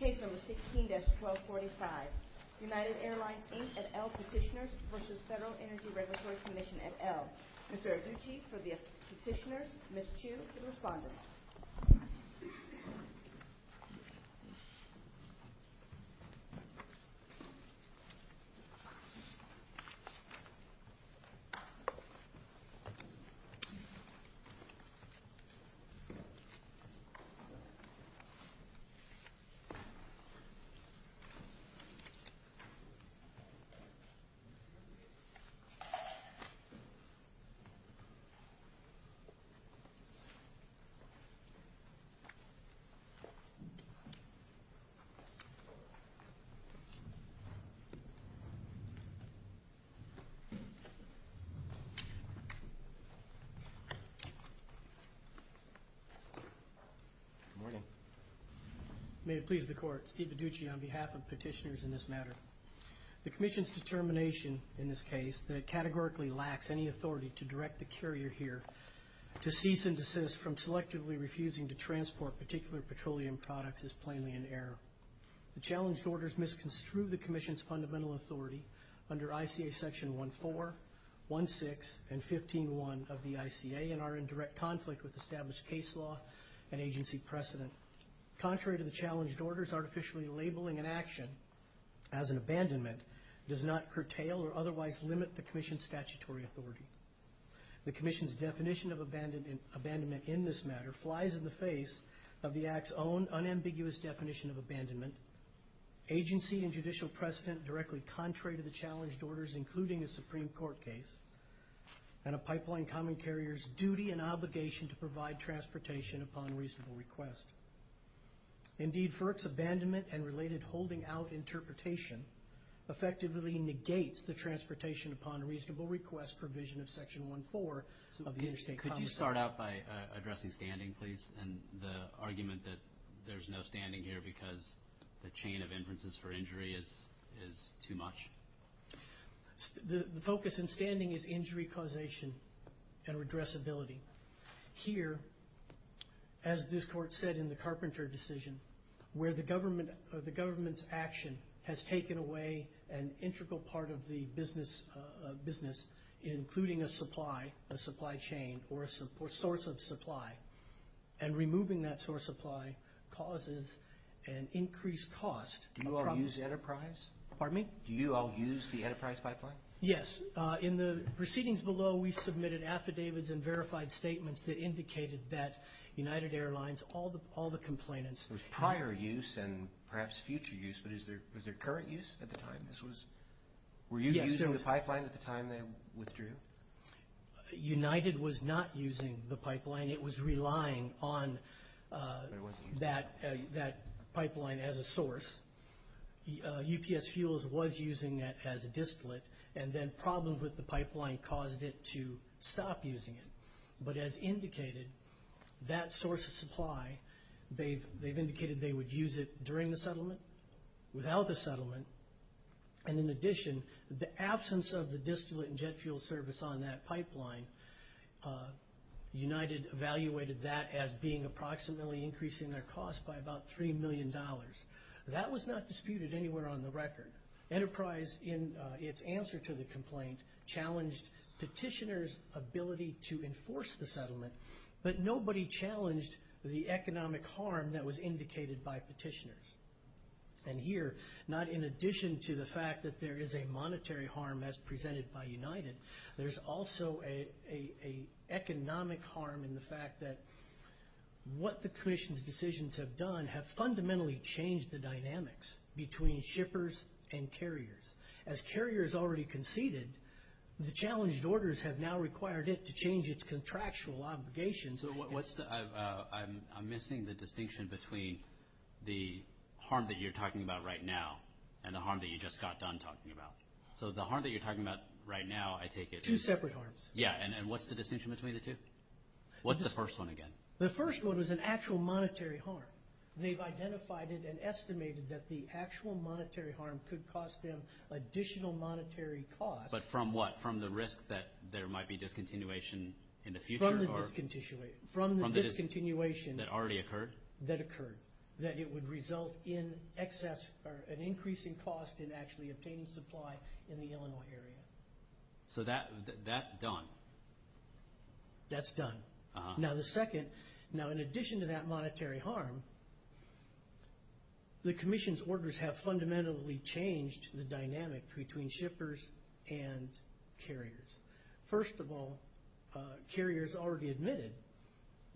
Case No. 16-1245, United Airlines, Inc. et al. Petitioners v. FEDERAL ENERGY REGULATORY COMMISSION, et al. Mr. Adichie, for the petitioners, Ms. Chu, for the respondents. Good morning. May it please the Court, Steve Adichie on behalf of petitioners in this matter. The Commission's determination in this case that it categorically lacks any authority to direct the carrier here to cease and desist from selectively refusing to transport particular petroleum products is plainly in error. The challenged orders misconstrued the Commission's fundamental authority under ICA Section 1-4, 1-6, and 15-1 of the ICA and are in direct conflict with established case law and agency precedent. Contrary to the challenged orders, artificially labeling an action as an abandonment does not curtail or otherwise limit the Commission's statutory authority. The Commission's definition of abandonment in this matter flies in the face of the Act's own unambiguous definition of abandonment. Agency and judicial precedent directly contrary to the challenged orders, including a Supreme Court case, and a pipeline common carrier's duty and obligation to provide transportation upon reasonable request. Indeed, FERC's abandonment and related holding out interpretation effectively negates the transportation upon reasonable request provision of Section 1-4 of the Interstate Commerce Act. Could you start out by addressing standing, please, and the argument that there's no standing here because the chain of inferences for injury is too much? The focus in standing is injury causation and redressability. Here, as this Court said in the Carpenter decision, where the government's action has taken away an integral part of the business, including a supply, a supply chain, or a source of supply, and removing that source of supply causes an increased cost. Do you all use Enterprise? Pardon me? Do you all use the Enterprise pipeline? Yes. In the proceedings below, we submitted affidavits and verified statements that indicated that United Airlines, all the complainants. There was prior use and perhaps future use, but was there current use at the time? Were you using the pipeline at the time they withdrew? United was not using the pipeline. It was relying on that pipeline as a source. UPS Fuels was using it as a disklet, and then problems with the pipeline caused it to stop using it. But as indicated, that source of supply, they've indicated they would use it during the settlement, without the settlement, and in addition, the absence of the disklet and jet fuel service on that pipeline, United evaluated that as being approximately increasing their cost by about $3 million. That was not disputed anywhere on the record. Enterprise, in its answer to the complaint, challenged petitioners' ability to enforce the settlement, but nobody challenged the economic harm that was indicated by petitioners. And here, not in addition to the fact that there is a monetary harm as presented by United, there's also an economic harm in the fact that what the commission's decisions have done have fundamentally changed the dynamics between shippers and carriers. As carriers already conceded, the challenged orders have now required it to change its contractual obligations. So I'm missing the distinction between the harm that you're talking about right now and the harm that you just got done talking about. So the harm that you're talking about right now, I take it— Two separate harms. Yeah, and what's the distinction between the two? What's the first one again? The first one was an actual monetary harm. They've identified it and estimated that the actual monetary harm could cost them additional monetary costs. But from what? From the risk that there might be discontinuation in the future? From the discontinuation. From the discontinuation. That already occurred? That occurred. That it would result in excess or an increase in cost in actually obtaining supply in the Illinois area. So that's done. That's done. Uh-huh. Now the second—now in addition to that monetary harm, the Commission's orders have fundamentally changed the dynamic between shippers and carriers. First of all, carriers already admitted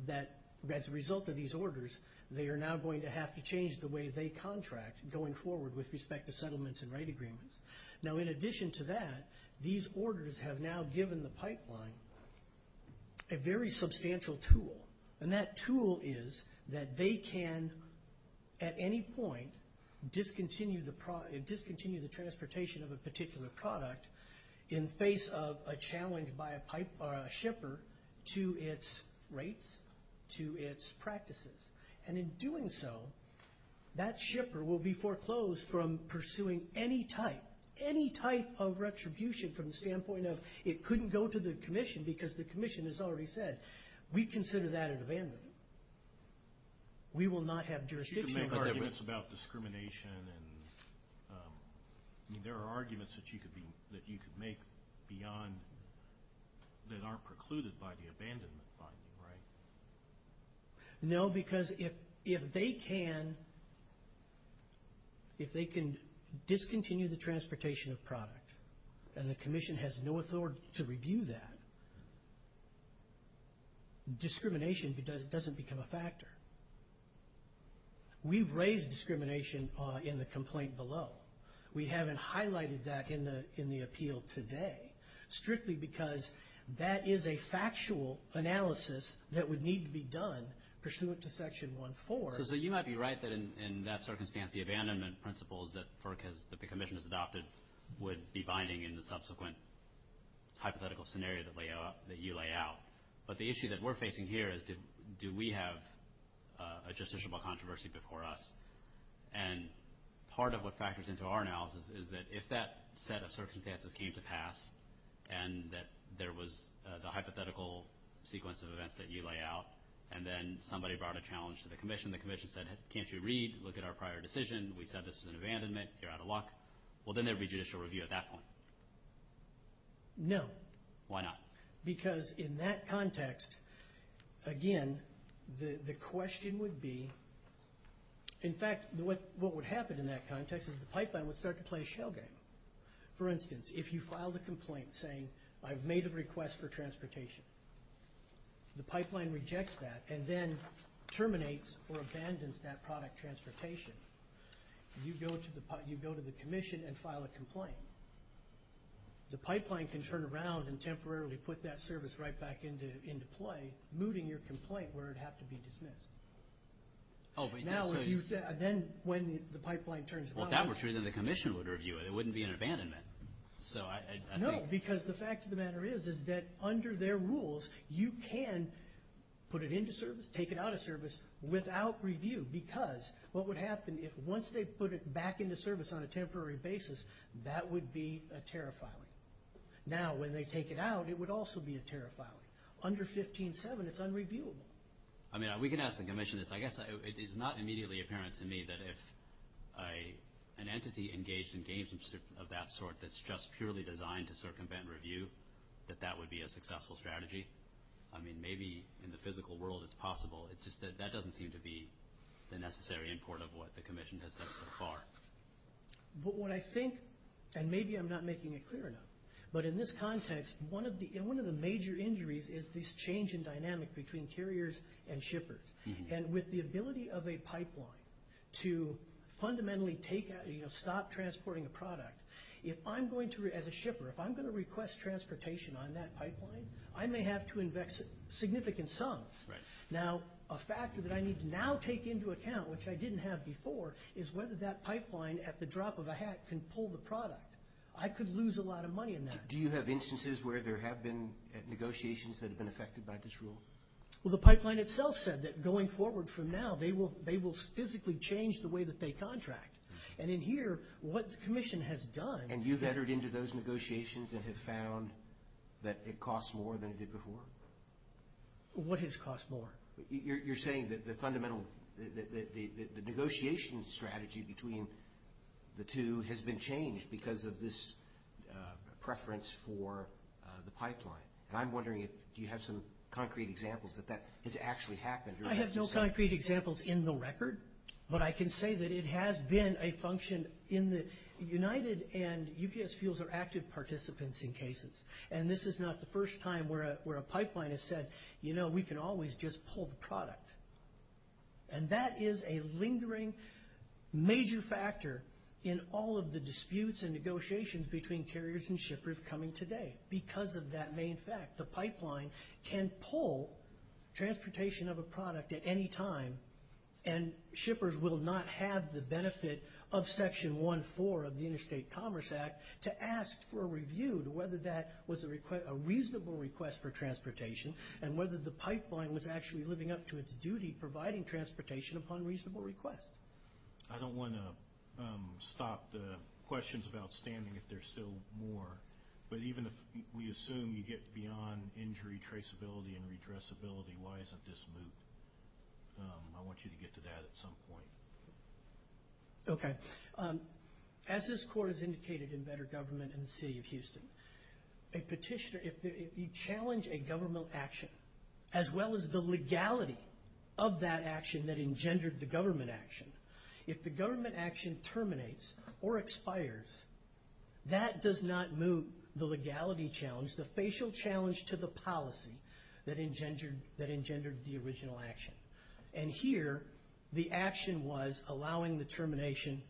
that as a result of these orders, they are now going to have to change the way they contract going forward with respect to settlements and right agreements. Now in addition to that, these orders have now given the pipeline a very substantial tool. And that tool is that they can, at any point, discontinue the transportation of a particular product in face of a challenge by a shipper to its rates, to its practices. And in doing so, that shipper will be foreclosed from pursuing any type, any type of retribution from the standpoint of it couldn't go to the Commission because the Commission has already said, we consider that an abandonment. We will not have jurisdiction. You can make arguments about discrimination and there are arguments that you could make beyond— that aren't precluded by the abandonment finding, right? No, because if they can, if they can discontinue the transportation of product, and the Commission has no authority to review that, discrimination doesn't become a factor. We've raised discrimination in the complaint below. We haven't highlighted that in the appeal today, strictly because that is a factual analysis that would need to be done pursuant to Section 1.4. So you might be right that in that circumstance, the abandonment principles that the Commission has adopted would be binding in the subsequent hypothetical scenario that you lay out. But the issue that we're facing here is, do we have a justiciable controversy before us? And part of what factors into our analysis is that if that set of circumstances came to pass, and that there was the hypothetical sequence of events that you lay out, and then somebody brought a challenge to the Commission, the Commission said, can't you read, look at our prior decision? We said this was an abandonment, you're out of luck. Well, then there'd be judicial review at that point. No. Why not? Because in that context, again, the question would be, in fact, what would happen in that context is the pipeline would start to play a shell game. For instance, if you filed a complaint saying, I've made a request for transportation, the pipeline rejects that and then terminates or abandons that product transportation. You go to the Commission and file a complaint. The pipeline can turn around and temporarily put that service right back into play, by mooting your complaint where it'd have to be dismissed. Then when the pipeline turns around. Well, if that were true, then the Commission would review it. It wouldn't be an abandonment. No, because the fact of the matter is, is that under their rules, you can put it into service, take it out of service without review, because what would happen if once they put it back into service on a temporary basis, that would be a tariff filing. Now, when they take it out, it would also be a tariff filing. Under 15-7, it's unreviewable. I mean, we can ask the Commission this. I guess it is not immediately apparent to me that if an entity engaged in games of that sort that's just purely designed to circumvent review, that that would be a successful strategy. I mean, maybe in the physical world it's possible. It's just that that doesn't seem to be the necessary import of what the Commission has done so far. But what I think, and maybe I'm not making it clear enough, but in this context, one of the major injuries is this change in dynamic between carriers and shippers. And with the ability of a pipeline to fundamentally stop transporting a product, if I'm going to, as a shipper, if I'm going to request transportation on that pipeline, I may have to invest significant sums. Now, a factor that I need to now take into account, which I didn't have before, is whether that pipeline at the drop of a hat can pull the product. I could lose a lot of money in that. Do you have instances where there have been negotiations that have been affected by this rule? Well, the pipeline itself said that going forward from now, they will physically change the way that they contract. And in here, what the Commission has done is... And you've entered into those negotiations and have found that it costs more than it did before? What has cost more? You're saying that the negotiation strategy between the two has been changed because of this preference for the pipeline. And I'm wondering if you have some concrete examples that that has actually happened. I have no concrete examples in the record, but I can say that it has been a function in the United, and UPS fuels are active participants in cases. And this is not the first time where a pipeline has said, you know, we can always just pull the product. And that is a lingering major factor in all of the disputes and negotiations between carriers and shippers coming today because of that main fact. The pipeline can pull transportation of a product at any time, and shippers will not have the benefit of Section 1.4 of the Interstate Commerce Act to ask for a review to whether that was a reasonable request for transportation and whether the pipeline was actually living up to its duty providing transportation upon reasonable request. I don't want to stop the questions about standing if there's still more, but even if we assume you get beyond injury traceability and redressability, why isn't this moot? I want you to get to that at some point. Okay. As this Court has indicated in Better Government and the City of Houston, a petitioner, if you challenge a government action, as well as the legality of that action that engendered the government action, if the government action terminates or expires, that does not moot the legality challenge, the facial challenge to the policy that engendered the original action. And here the action was allowing the termination,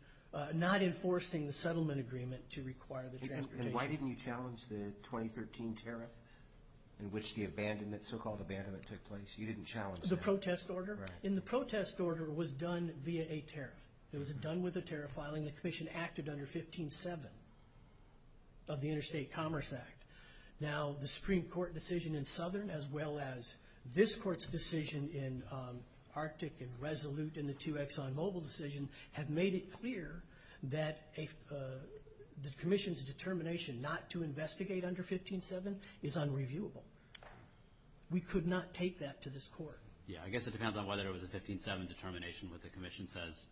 not enforcing the settlement agreement to require the transportation. And why didn't you challenge the 2013 tariff in which the so-called abandonment took place? You didn't challenge that. The protest order? Right. And the protest order was done via a tariff. It was done with a tariff filing. The Commission acted under 15-7 of the Interstate Commerce Act. Now, the Supreme Court decision in Southern, as well as this Court's decision in Arctic and Resolute and the two ExxonMobil decisions, have made it clear that the Commission's determination not to investigate under 15-7 is unreviewable. We could not take that to this Court. Yeah. I guess it depends on whether it was a 15-7 determination what the Commission says.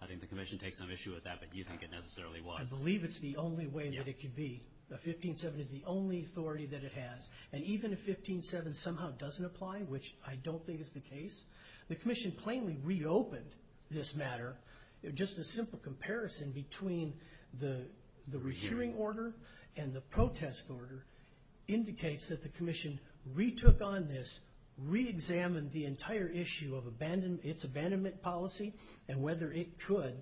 I think the Commission takes some issue with that, but you think it necessarily was. I believe it's the only way that it could be. A 15-7 is the only authority that it has. And even if 15-7 somehow doesn't apply, which I don't think is the case, the Commission plainly reopened this matter. Just a simple comparison between the rehearing order and the protest order indicates that the Commission retook on this, reexamined the entire issue of its abandonment policy and whether it could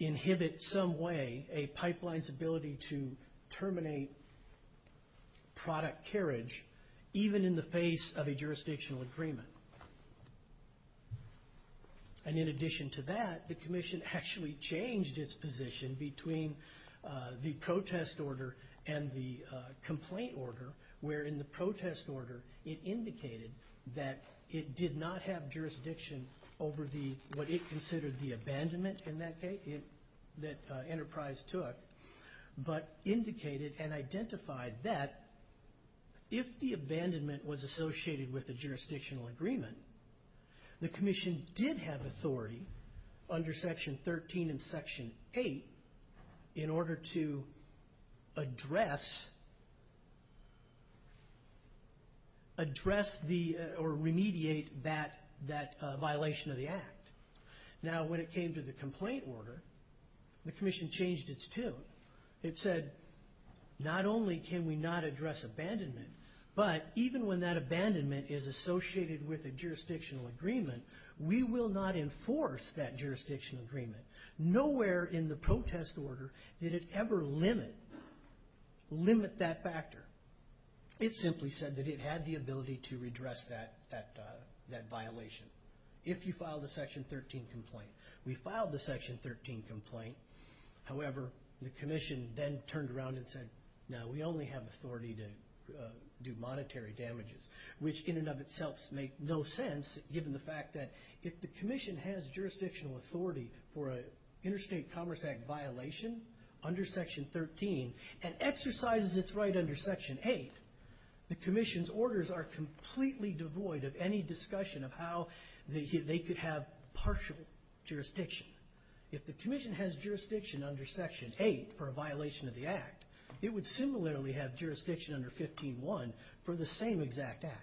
inhibit some way a pipeline's ability to terminate product carriage, even in the face of a jurisdictional agreement. And in addition to that, the Commission actually changed its position between the protest order and the complaint order, where in the protest order it indicated that it did not have jurisdiction over what it considered the abandonment, in that case, that Enterprise took, but indicated and identified that if the abandonment was associated with a jurisdictional agreement, the Commission did have authority under Section 13 and Section 8 in order to address or remediate that violation of the act. Now, when it came to the complaint order, the Commission changed its tune. It said, not only can we not address abandonment, but even when that abandonment is associated with a jurisdictional agreement, we will not enforce that jurisdictional agreement. Nowhere in the protest order did it ever limit that factor. It simply said that it had the ability to redress that violation. If you filed a Section 13 complaint. We filed the Section 13 complaint. However, the Commission then turned around and said, no, we only have authority to do monetary damages, which in and of itself makes no sense, given the fact that if the Commission has jurisdictional authority for an Interstate Commerce Act violation under Section 13 and exercises its right under Section 8, the Commission's orders are completely devoid of any discussion of how they could have partial jurisdiction. If the Commission has jurisdiction under Section 8 for a violation of the act, it would similarly have jurisdiction under 15-1 for the same exact act.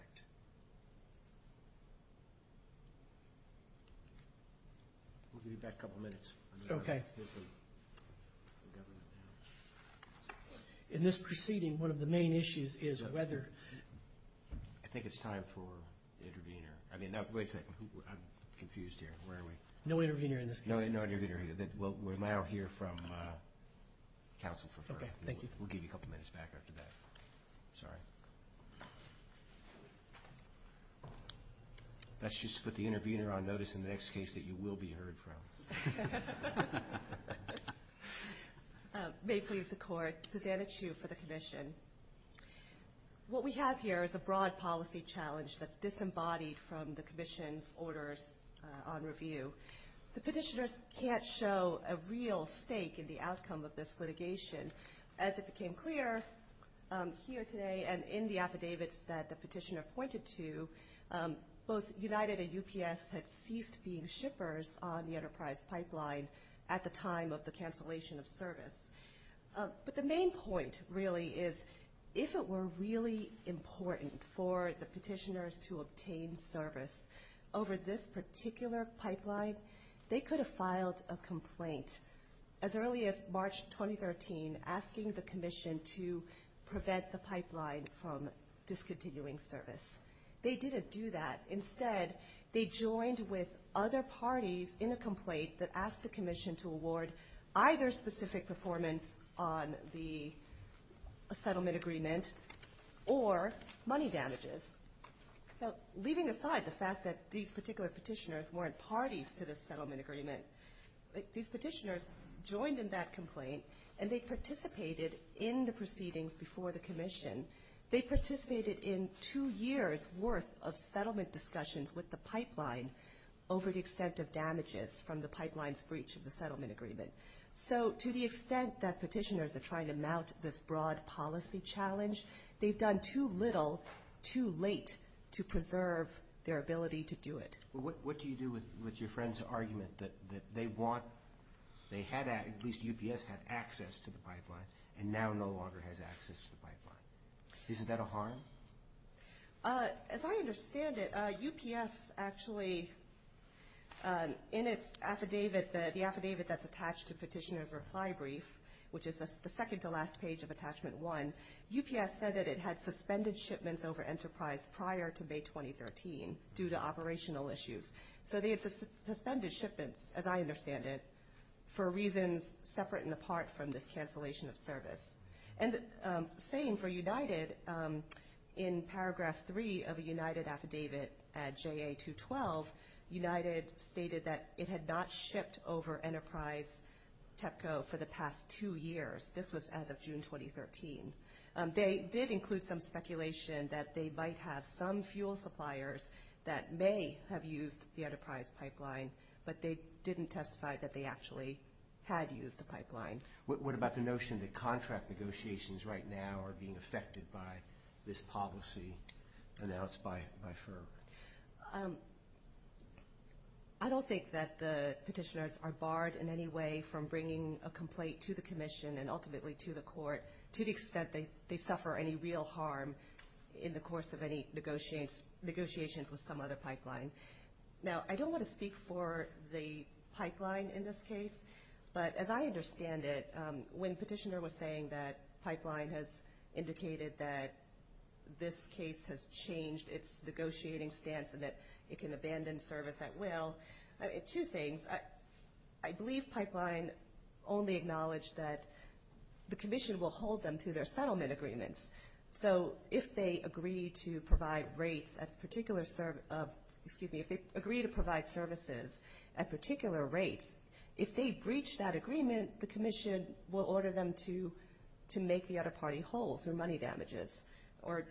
We'll give you back a couple minutes. Okay. In this proceeding, one of the main issues is whether I think it's time for the intervener. I mean, wait a second. I'm confused here. Where are we? No intervener in this case. No intervener. We'll now hear from counsel for further. Okay. Thank you. We'll give you a couple minutes back after that. Sorry. Let's just put the intervener on notice in the next case that you will be heard from. May it please the Court. Susanna Chu for the Commission. What we have here is a broad policy challenge that's disembodied from the Commission's orders on review. The petitioners can't show a real stake in the outcome of this litigation. As it became clear here today and in the affidavits that the petitioner pointed to, both United and UPS had ceased being shippers on the Enterprise pipeline at the time of the cancellation of service. But the main point, really, is if it were really important for the petitioners to obtain service over this particular pipeline, they could have filed a complaint as early as March 2013 asking the Commission to prevent the pipeline from discontinuing service. They didn't do that. Instead, they joined with other parties in a complaint that asked the Commission to award either specific performance on the settlement agreement or money damages. Now, leaving aside the fact that these particular petitioners weren't parties to this settlement agreement, these petitioners joined in that complaint, and they participated in the proceedings before the Commission. They participated in two years' worth of settlement discussions with the pipeline over the extent of damages from the pipeline's breach of the settlement agreement. So to the extent that petitioners are trying to mount this broad policy challenge, they've done too little too late to preserve their ability to do it. What do you do with your friends' argument that they want, at least UPS had access to the pipeline and now no longer has access to the pipeline? Isn't that a harm? As I understand it, UPS actually in its affidavit, the affidavit that's attached to Petitioner's Reply Brief, which is the second-to-last page of Attachment 1, UPS said that it had suspended shipments over enterprise prior to May 2013 due to operational issues. So they had suspended shipments, as I understand it, for reasons separate and apart from this cancellation of service. And the same for United. In Paragraph 3 of a United affidavit at JA212, United stated that it had not shipped over enterprise TEPCO for the past two years. This was as of June 2013. They did include some speculation that they might have some fuel suppliers that may have used the enterprise pipeline, but they didn't testify that they actually had used the pipeline. What about the notion that contract negotiations right now are being affected by this policy announced by FERC? I don't think that the petitioners are barred in any way from bringing a complaint to the commission and ultimately to the court to the extent they suffer any real harm in the course of any negotiations with some other pipeline. Now, I don't want to speak for the pipeline in this case, but as I understand it, when petitioner was saying that pipeline has indicated that this case has changed its negotiating stance and that it can abandon service at will, two things. I believe pipeline only acknowledged that the commission will hold them to their settlement agreements. So if they agree to provide rates at particular service of, excuse me, if they agree to provide services at particular rates, if they breach that agreement, the commission will order them to make the other party whole through money damages or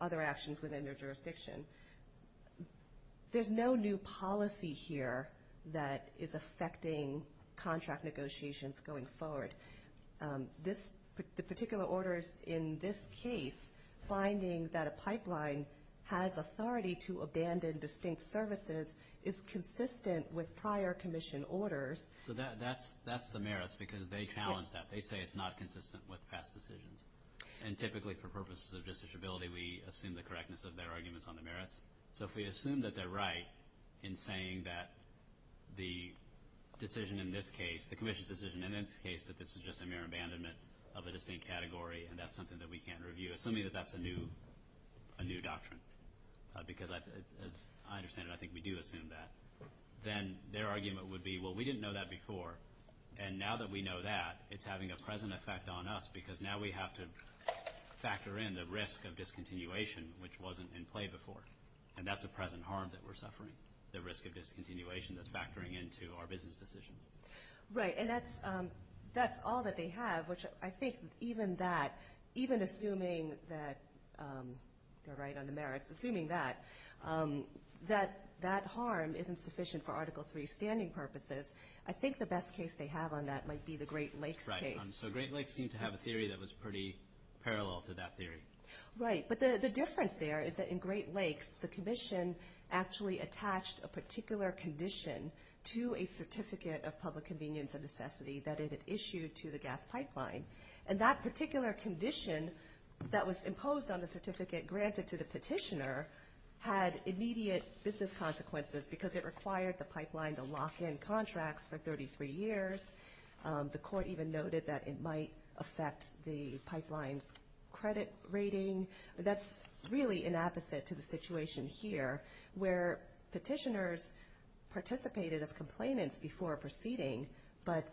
other actions within their jurisdiction. There's no new policy here that is affecting contract negotiations going forward. The particular orders in this case, finding that a pipeline has authority to abandon distinct services, is consistent with prior commission orders. So that's the merits because they challenged that. They say it's not consistent with past decisions. And typically for purposes of justiciability, we assume the correctness of their arguments on the merits. So if we assume that they're right in saying that the decision in this case, the commission's decision in this case, that this is just a mere abandonment of a distinct category and that's something that we can't review, assuming that that's a new doctrine. Because as I understand it, I think we do assume that. Then their argument would be, well, we didn't know that before. And now that we know that, it's having a present effect on us because now we have to factor in the risk of discontinuation, which wasn't in play before. And that's a present harm that we're suffering, the risk of discontinuation that's factoring into our business decisions. Right, and that's all that they have, which I think even that, even assuming that they're right on the merits, assuming that that harm isn't sufficient for Article III standing purposes, I think the best case they have on that might be the Great Lakes case. Right, so Great Lakes seemed to have a theory that was pretty parallel to that theory. Right, but the difference there is that in Great Lakes, the commission actually attached a particular condition to a certificate of public convenience and necessity that it had issued to the gas pipeline. And that particular condition that was imposed on the certificate granted to the petitioner had immediate business consequences because it required the pipeline to lock in contracts for 33 years. The court even noted that it might affect the pipeline's credit rating. That's really an opposite to the situation here, where petitioners participated as complainants before proceeding, but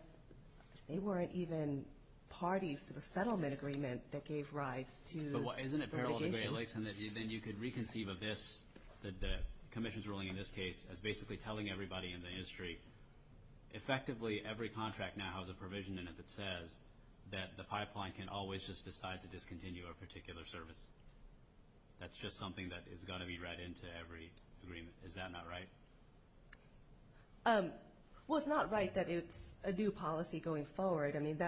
they weren't even parties to the settlement agreement that gave rise to the litigation. But isn't it parallel to Great Lakes in that then you could reconceive of this, the commission's ruling in this case, as basically telling everybody in the industry, effectively every contract now has a provision in it that says that the pipeline can always just decide to discontinue a particular service. That's just something that has got to be read into every agreement. Is that not right? Well, it's not right that it's a new policy going forward. I mean,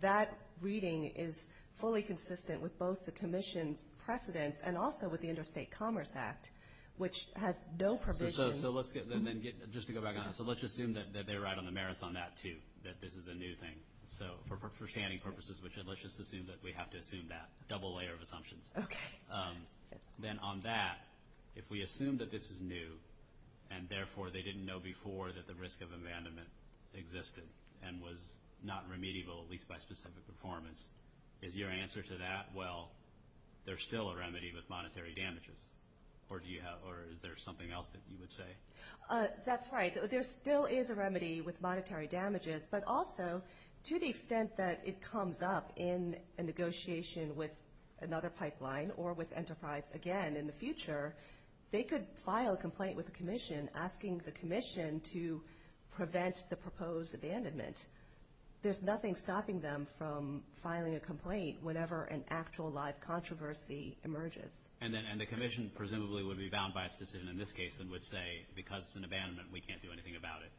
that reading is fully consistent with both the commission's precedents and also with the Interstate Commerce Act, which has no provision. So let's get then just to go back on that. So let's just assume that they're right on the merits on that, too, that this is a new thing. So for standing purposes, let's just assume that we have to assume that double layer of assumptions. Okay. Then on that, if we assume that this is new and, therefore, they didn't know before that the risk of abandonment existed and was not remediable, at least by specific performance, is your answer to that, well, there's still a remedy with monetary damages? Or is there something else that you would say? That's right. There still is a remedy with monetary damages, but also to the extent that it comes up in a negotiation with another pipeline or with Enterprise again in the future, they could file a complaint with the commission, asking the commission to prevent the proposed abandonment. There's nothing stopping them from filing a complaint whenever an actual live controversy emerges. And the commission presumably would be bound by its decision in this case and would say, because it's an abandonment, we can't do anything about it.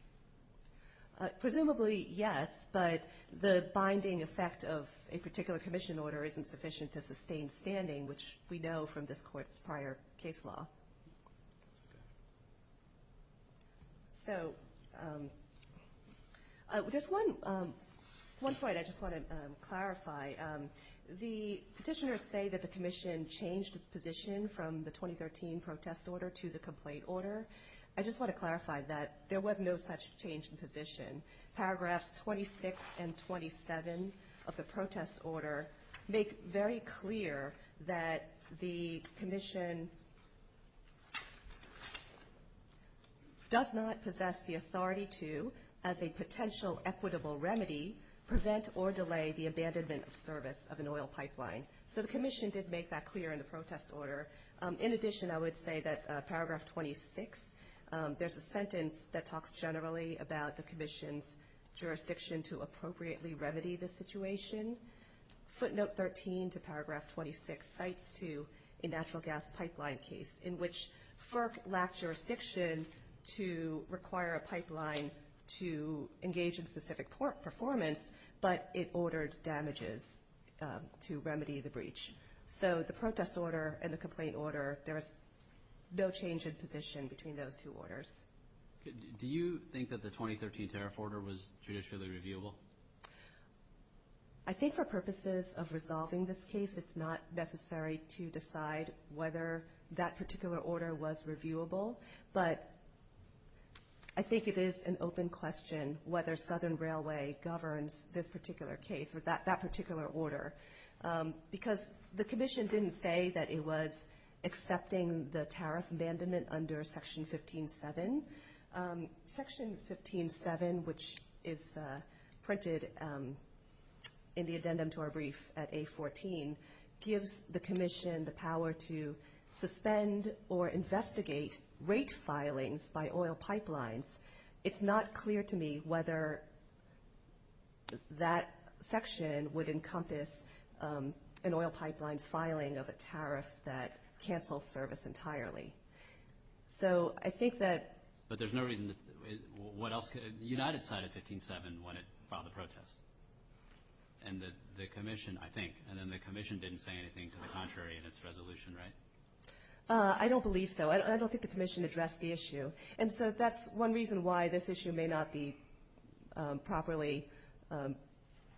Presumably, yes, but the binding effect of a particular commission order isn't sufficient to sustain standing, which we know from this Court's prior case law. So just one point I just want to clarify. The petitioners say that the commission changed its position from the 2013 protest order to the complaint order. I just want to clarify that there was no such change in position. Paragraphs 26 and 27 of the protest order make very clear that the commission does not possess the authority to, as a potential equitable remedy, prevent or delay the abandonment of service of an oil pipeline. So the commission did make that clear in the protest order. In addition, I would say that Paragraph 26, there's a sentence that talks generally about the commission's jurisdiction to appropriately remedy the situation. Footnote 13 to Paragraph 26 cites a natural gas pipeline case in which FERC lacked jurisdiction to require a pipeline to engage in specific performance, but it ordered damages to remedy the breach. So the protest order and the complaint order, there is no change in position between those two orders. Do you think that the 2013 tariff order was judicially reviewable? I think for purposes of resolving this case, it's not necessary to decide whether that particular order was reviewable, but I think it is an open question whether Southern Railway governs this particular case or that particular order. Because the commission didn't say that it was accepting the tariff abandonment under Section 15.7. Section 15.7, which is printed in the addendum to our brief at A14, gives the commission the power to suspend or investigate rate filings by oil pipelines. It's not clear to me whether that section would encompass an oil pipeline's filing of a tariff that cancels service entirely. So I think that – But there's no reason – what else – the United side of 15.7, when it filed the protest, and the commission, I think, and then the commission didn't say anything to the contrary in its resolution, right? I don't believe so. I don't think the commission addressed the issue. And so that's one reason why this issue may not be properly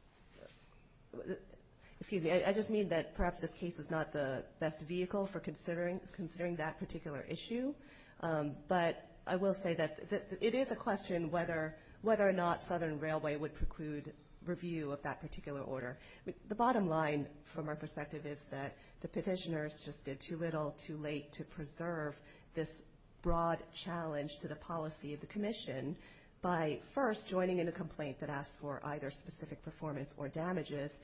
– excuse me, I just mean that perhaps this case is not the best vehicle for considering that particular issue. But I will say that it is a question whether or not Southern Railway would preclude review of that particular order. The bottom line from our perspective is that the petitioners just did too little, too late, to preserve this broad challenge to the policy of the commission by, first, joining in a complaint that asks for either specific performance or damages,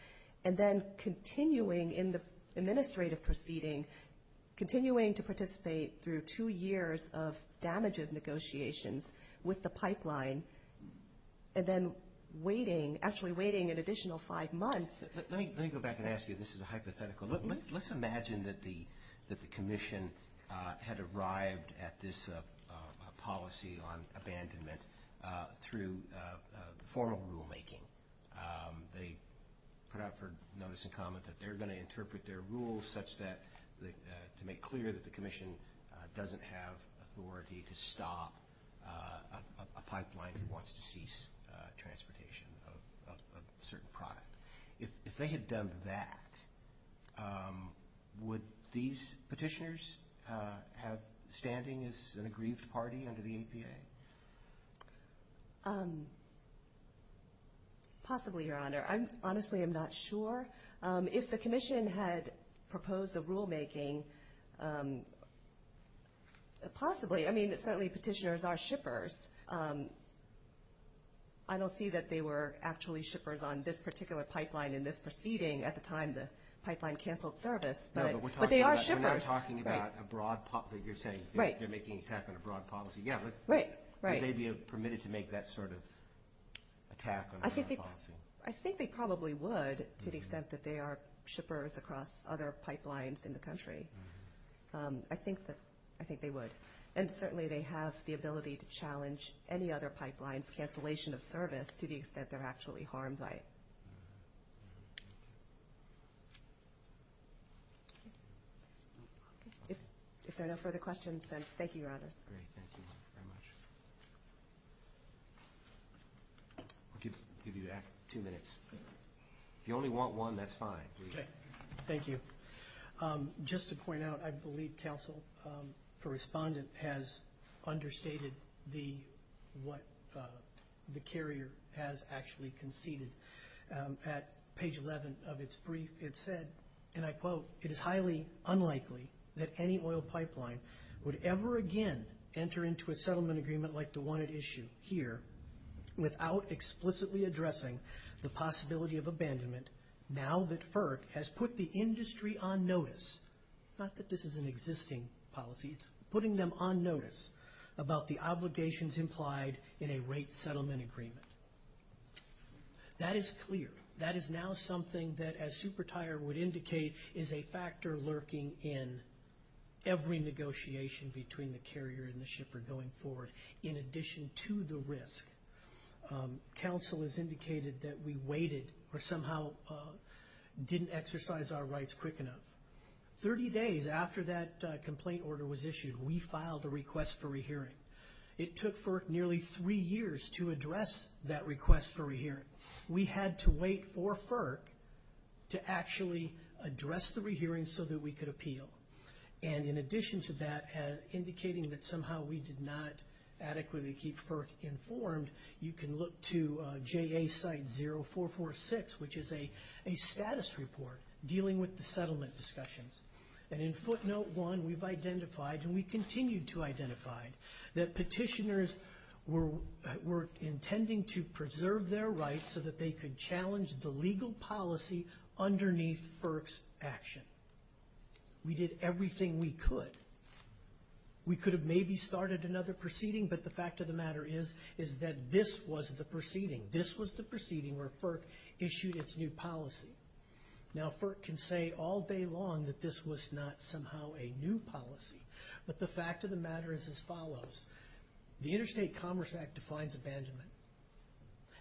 and then continuing in the administrative proceeding, continuing to participate through two years of damages negotiations with the pipeline, and then waiting, actually waiting an additional five months. Let me go back and ask you. This is a hypothetical. Let's imagine that the commission had arrived at this policy on abandonment through formal rulemaking. They put out for notice and comment that they're going to interpret their rules such that – to make clear that the commission doesn't have authority to stop a pipeline that wants to cease transportation of a certain product. If they had done that, would these petitioners have standing as an aggrieved party under the APA? Possibly, Your Honor. Honestly, I'm not sure. If the commission had proposed a rulemaking, possibly. I mean, certainly petitioners are shippers. I don't see that they were actually shippers on this particular pipeline in this proceeding at the time the pipeline canceled service. But they are shippers. We're not talking about a broad policy. You're saying they're making an attack on a broad policy. Right. Would they be permitted to make that sort of attack on a broad policy? I think they probably would to the extent that they are shippers across other pipelines in the country. I think they would. And certainly they have the ability to challenge any other pipeline's cancellation of service to the extent they're actually harmed by it. If there are no further questions, then thank you, Your Honors. Great. Thank you very much. I'll give you two minutes. If you only want one, that's fine. Okay. Thank you. Just to point out, I believe counsel for respondent has understated what the carrier has actually conceded. At page 11 of its brief, it said, and I quote, it is highly unlikely that any oil pipeline would ever again enter into a settlement agreement like the one at issue here without explicitly addressing the possibility of abandonment now that FERC has put the industry on notice, not that this is an existing policy, putting them on notice about the obligations implied in a rate settlement agreement. That is clear. That is now something that, as SuperTIRE would indicate, is a factor lurking in every negotiation between the carrier and the shipper going forward. In addition to the risk, counsel has indicated that we waited or somehow didn't exercise our rights quick enough. Thirty days after that complaint order was issued, we filed a request for a hearing. It took FERC nearly three years to address that request for a hearing. We had to wait for FERC to actually address the re-hearing so that we could appeal. And in addition to that, indicating that somehow we did not adequately keep FERC informed, you can look to JA site 0446, which is a status report dealing with the settlement discussions. And in footnote 1, we've identified, and we continue to identify, that petitioners were intending to preserve their rights so that they could challenge the legal policy underneath FERC's action. We did everything we could. We could have maybe started another proceeding, but the fact of the matter is that this was the proceeding. This was the proceeding where FERC issued its new policy. Now FERC can say all day long that this was not somehow a new policy, but the fact of the matter is as follows. The Interstate Commerce Act defines abandonment,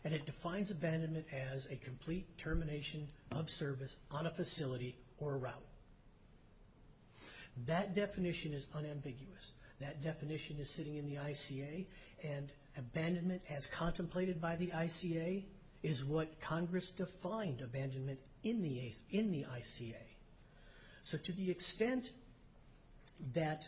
and it defines abandonment as a complete termination of service on a facility or route. That definition is unambiguous. That definition is sitting in the ICA, and abandonment as contemplated by the ICA is what Congress defined abandonment in the ICA. So to the extent that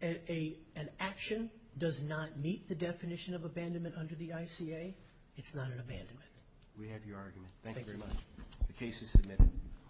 an action does not meet the definition of abandonment under the ICA, it's not an abandonment. We have your argument. Thank you very much. The case is submitted.